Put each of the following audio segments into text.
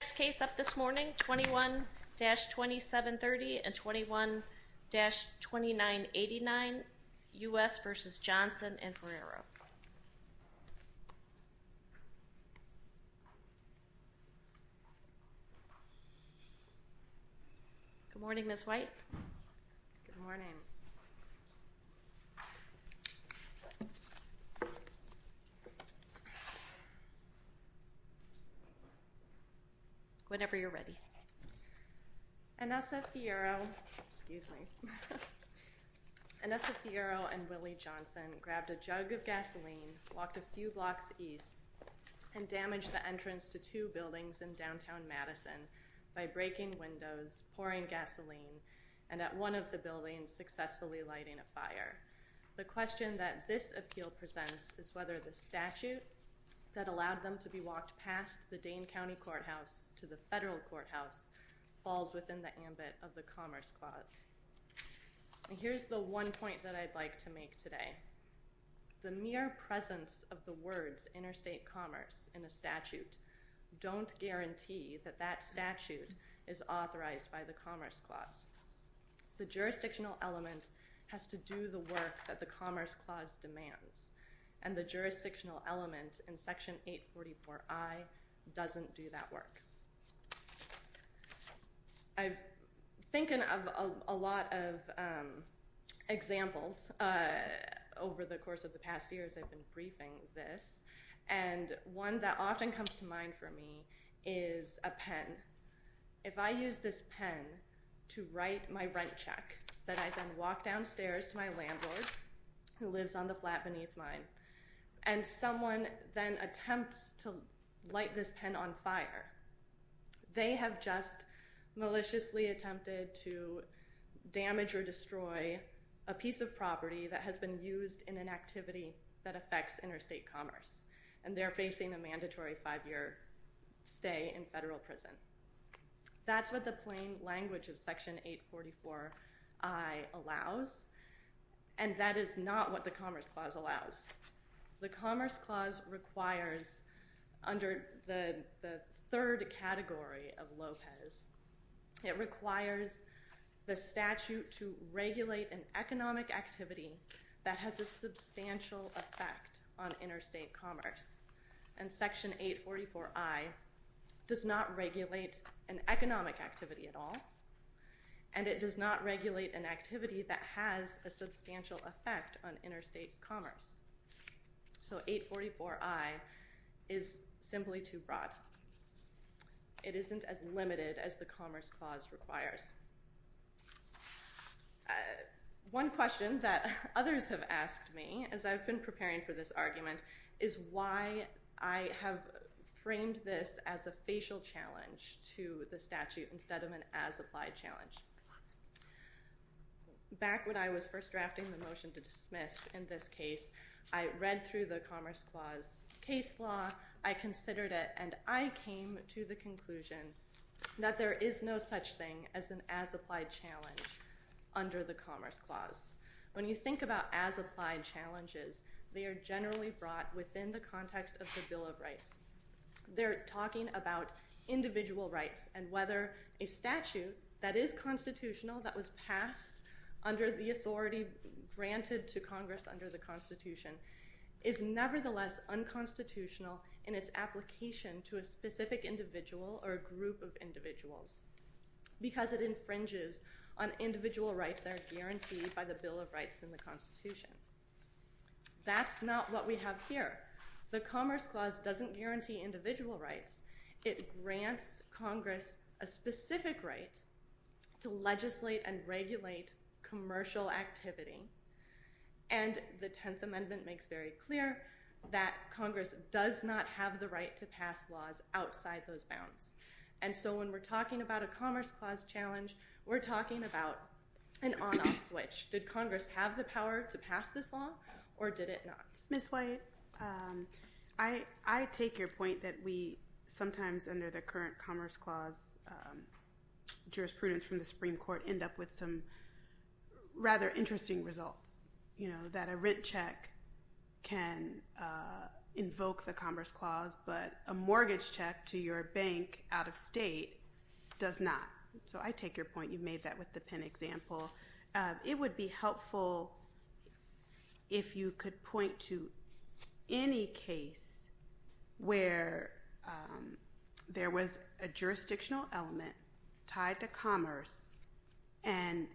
The next case up this morning, 21-2730 and 21-2989, U.S. v. Johnson and Ferreira. Good morning, Ms. White. Good morning. Whenever you're ready. Anessa Fierro and Willie Johnson grabbed a jug of gasoline, walked a few blocks east, and damaged the entrance to two buildings in downtown Madison by breaking windows, pouring gasoline, and at one of the buildings successfully lighting a fire. The question that this appeal presents is whether the statute that allowed them to be walked past the Dane County Courthouse to the federal courthouse falls within the ambit of the Commerce Clause. And here's the one point that I'd like to make today. The mere presence of the words interstate commerce in a statute don't guarantee that that statute is authorized by the Commerce Clause. The jurisdictional element has to do the work that the Commerce Clause demands, and the jurisdictional element in Section 844I doesn't do that work. I've been thinking of a lot of examples over the course of the past year as I've been briefing this, and one that often comes to mind for me is a pen. If I use this pen to write my rent check, then I then walk downstairs to my landlord, who lives on the flat beneath mine, and someone then attempts to light this pen on fire, they have just maliciously attempted to damage or destroy a piece of property that has been used in an activity that affects interstate commerce, and they're facing a mandatory five-year stay in federal prison. That's what the plain language of Section 844I allows, and that is not what the Commerce Clause allows. The Commerce Clause requires, under the third category of Lopez, it requires the statute to regulate an economic activity that has a substantial effect on interstate commerce, and Section 844I does not regulate an economic activity at all, and it does not regulate an activity that has a substantial effect on interstate commerce. So 844I is simply too broad. It isn't as limited as the Commerce Clause requires. One question that others have asked me as I've been preparing for this argument is why I have framed this as a facial challenge to the statute instead of an as-applied challenge. Back when I was first drafting the motion to dismiss in this case, I read through the Commerce Clause case law, I considered it, and I came to the conclusion that there is no such thing as an as-applied challenge under the Commerce Clause. When you think about as-applied challenges, they are generally brought within the context of the Bill of Rights. They're talking about individual rights and whether a statute that is constitutional, that was passed under the authority granted to Congress under the Constitution, is nevertheless unconstitutional in its application to a specific individual or a group of individuals because it infringes on individual rights that are guaranteed by the Bill of Rights in the Constitution. That's not what we have here. The Commerce Clause doesn't guarantee individual rights. It grants Congress a specific right to legislate and regulate commercial activity, and the Tenth Amendment makes very clear that Congress does not have the right to pass laws outside those bounds. And so when we're talking about a Commerce Clause challenge, we're talking about an on-off switch. Did Congress have the power to pass this law or did it not? Ms. White, I take your point that we sometimes, under the current Commerce Clause jurisprudence from the Supreme Court, end up with some rather interesting results. You know, that a rent check can invoke the Commerce Clause, but a mortgage check to your bank out of state does not. So I take your point. You made that with the pen example. It would be helpful if you could point to any case where there was a jurisdictional element tied to commerce and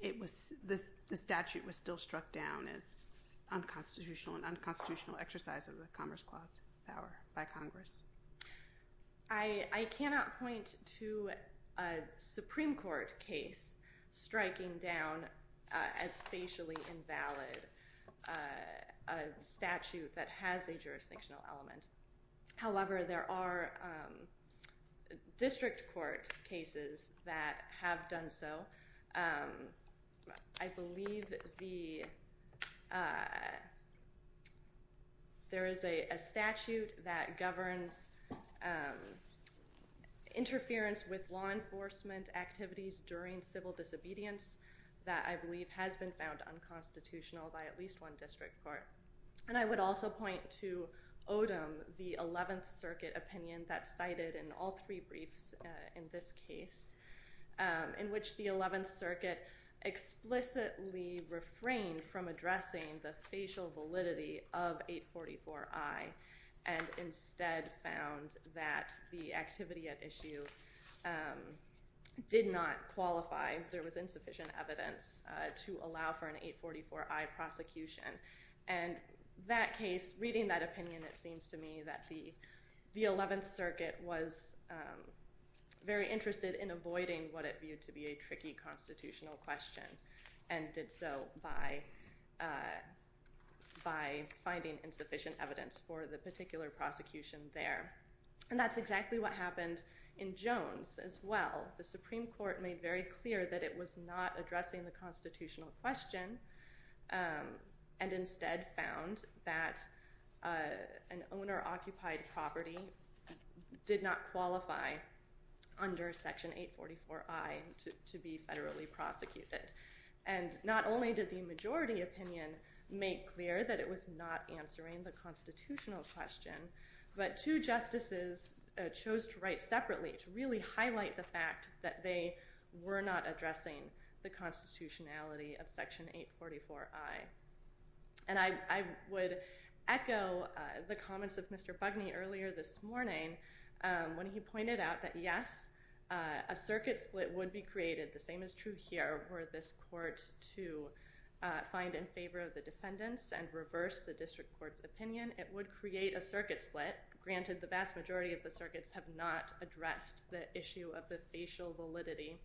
the statute was still struck down as unconstitutional and unconstitutional exercise of the Commerce Clause by Congress. I cannot point to a Supreme Court case striking down as facially invalid a statute that has a jurisdictional element. However, there are district court cases that have done so. I believe there is a statute that governs interference with law enforcement activities during civil disobedience that I believe has been found unconstitutional by at least one district court. And I would also point to Odom, the 11th Circuit opinion that's cited in all three briefs in this case, in which the 11th Circuit explicitly refrained from addressing the facial validity of 844I and instead found that the activity at issue did not qualify. There was insufficient evidence to allow for an 844I prosecution. And that case, reading that opinion, it seems to me that the 11th Circuit was very interested in avoiding what it viewed to be a tricky constitutional question and did so by finding insufficient evidence for the particular prosecution there. And that's exactly what happened in Jones as well. The Supreme Court made very clear that it was not addressing the constitutional question and instead found that an owner-occupied property did not qualify under Section 844I to be federally prosecuted. And not only did the majority opinion make clear that it was not answering the constitutional question, but two justices chose to write separately to really highlight the fact that they were not addressing the constitutionality of Section 844I. And I would echo the comments of Mr. Bugney earlier this morning when he pointed out that, yes, a circuit split would be created. The same is true here. Were this court to find in favor of the defendants and reverse the district court's opinion, it would create a circuit split. Granted, the vast majority of the circuits have not addressed the issue of the facial validity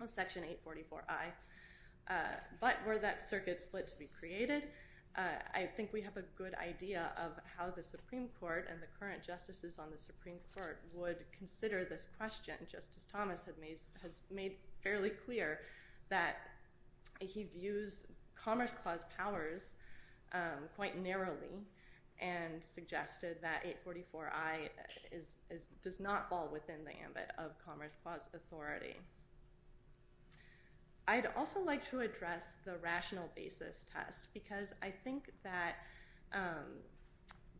of Section 844I, but were that circuit split to be created, I think we have a good idea of how the Supreme Court and the current justices on the Supreme Court would consider this question. And Justice Thomas has made fairly clear that he views Commerce Clause powers quite narrowly and suggested that 844I does not fall within the ambit of Commerce Clause authority. I'd also like to address the rational basis test, because I think that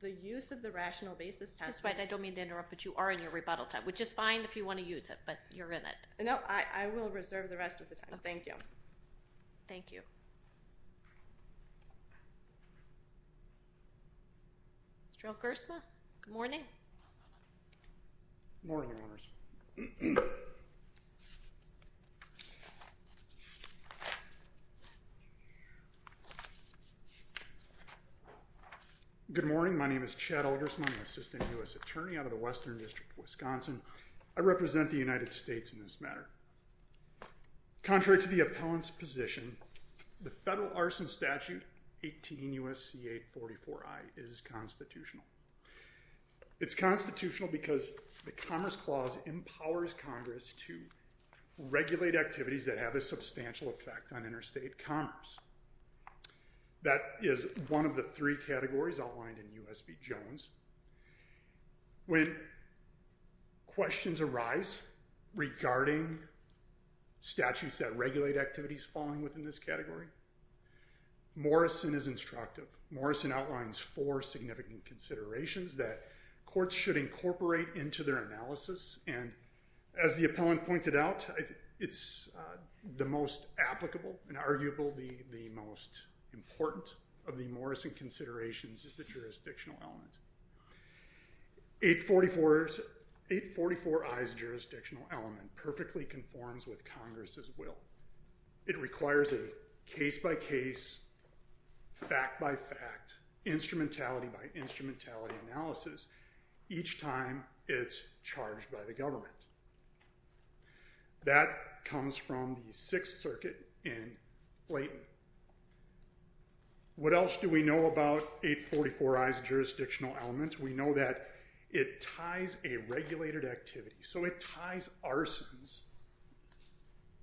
the use of the rational basis test— That's right. I don't mean to interrupt, but you are in your rebuttal time, which is fine if you want to use it, but you're in it. No, I will reserve the rest of the time. Thank you. Thank you. Mr. O'Gersma, good morning. Good morning, Your Honors. Good morning. My name is Chad O'Gersma. I'm an assistant U.S. attorney out of the Western District of Wisconsin. I represent the United States in this matter. Contrary to the appellant's position, the federal arson statute, 18 U.S.C. 844I, is constitutional. It's constitutional because the Commerce Clause empowers Congress to regulate activities that have a substantial effect on interstate commerce. That is one of the three categories outlined in U.S.B. Jones. When questions arise regarding statutes that regulate activities falling within this category, Morrison is instructive. Morrison outlines four significant considerations that courts should incorporate into their analysis. As the appellant pointed out, it's the most applicable and arguably the most important of the Morrison considerations is the jurisdictional element. 844I's jurisdictional element perfectly conforms with Congress's will. It requires a case-by-case, fact-by-fact, instrumentality-by-instrumentality analysis each time it's charged by the government. That comes from the Sixth Circuit in Blayton. What else do we know about 844I's jurisdictional element? We know that it ties a regulated activity, so it ties arsons,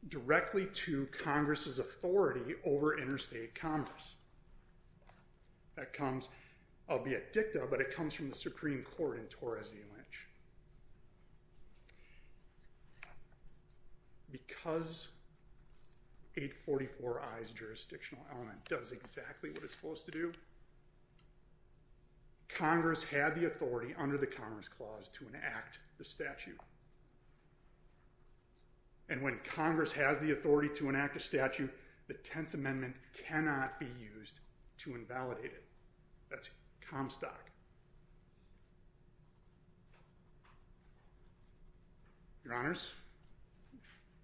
directly to Congress's authority over interstate commerce. That comes, albeit dicta, but it comes from the Supreme Court in Torres v. Lynch. Because 844I's jurisdictional element does exactly what it's supposed to do, Congress had the authority under the Commerce Clause to enact the statute. And when Congress has the authority to enact a statute, the Tenth Amendment cannot be used to invalidate it. That's Comstock. Your Honors,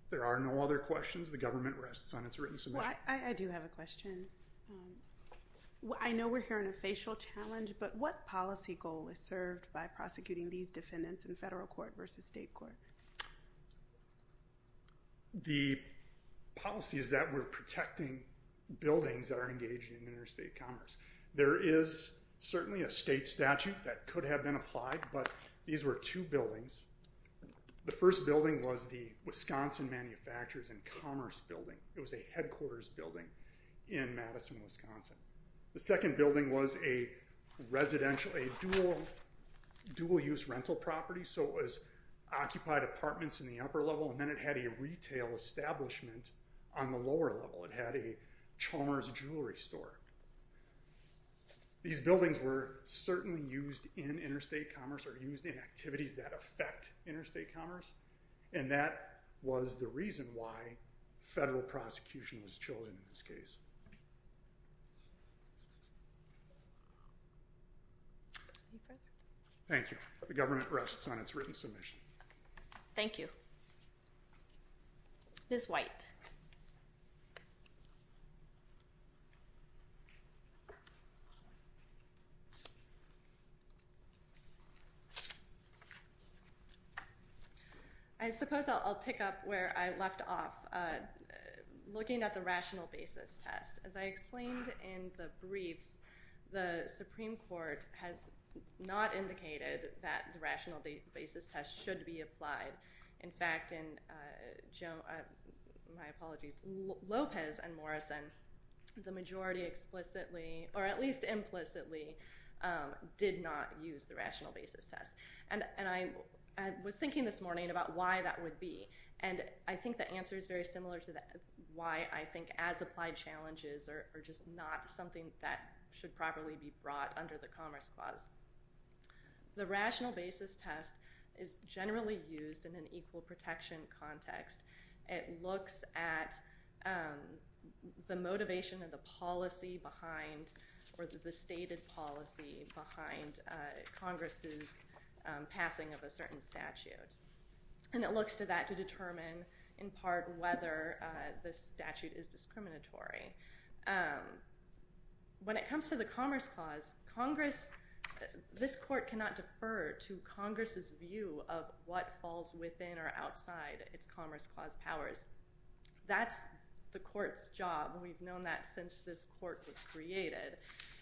there are no other questions. The government rests on its written submission. I do have a question. I know we're hearing a facial challenge, but what policy goal is served by prosecuting these defendants in federal court versus state court? The policy is that we're protecting buildings that are engaged in interstate commerce. There is certainly a state statute that could have been applied, but these were two buildings. The first building was the Wisconsin Manufacturers and Commerce Building. It was a headquarters building in Madison, Wisconsin. The second building was a residential, a dual-use rental property. So it was occupied apartments in the upper level, and then it had a retail establishment on the lower level. It had a Chalmers Jewelry Store. These buildings were certainly used in interstate commerce or used in activities that affect interstate commerce, and that was the reason why federal prosecution was chosen in this case. Thank you. The government rests on its written submission. Thank you. Ms. White. I suppose I'll pick up where I left off, looking at the rational basis test. As I explained in the briefs, the Supreme Court has not indicated that the rational basis test should be applied. In fact, in Lopez and Morrison, the majority explicitly, or at least implicitly, did not use the rational basis test. And I was thinking this morning about why that would be, and I think the answer is very similar to that, why I think as-applied challenges are just not something that should properly be brought under the Commerce Clause. The rational basis test is generally used in an equal protection context. It looks at the motivation of the policy behind or the stated policy behind Congress's passing of a certain statute, and it looks to that to determine, in part, whether the statute is discriminatory. When it comes to the Commerce Clause, this court cannot defer to Congress's view of what falls within or outside its Commerce Clause powers. That's the court's job. We've known that since this court was created.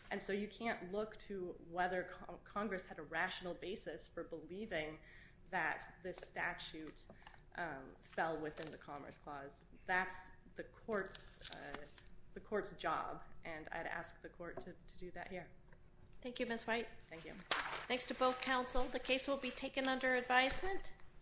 And so you can't look to whether Congress had a rational basis for believing that this statute fell within the Commerce Clause. That's the court's job, and I'd ask the court to do that here. Thank you, Ms. White. Thank you. Thanks to both counsel. The case will be taken under advisement.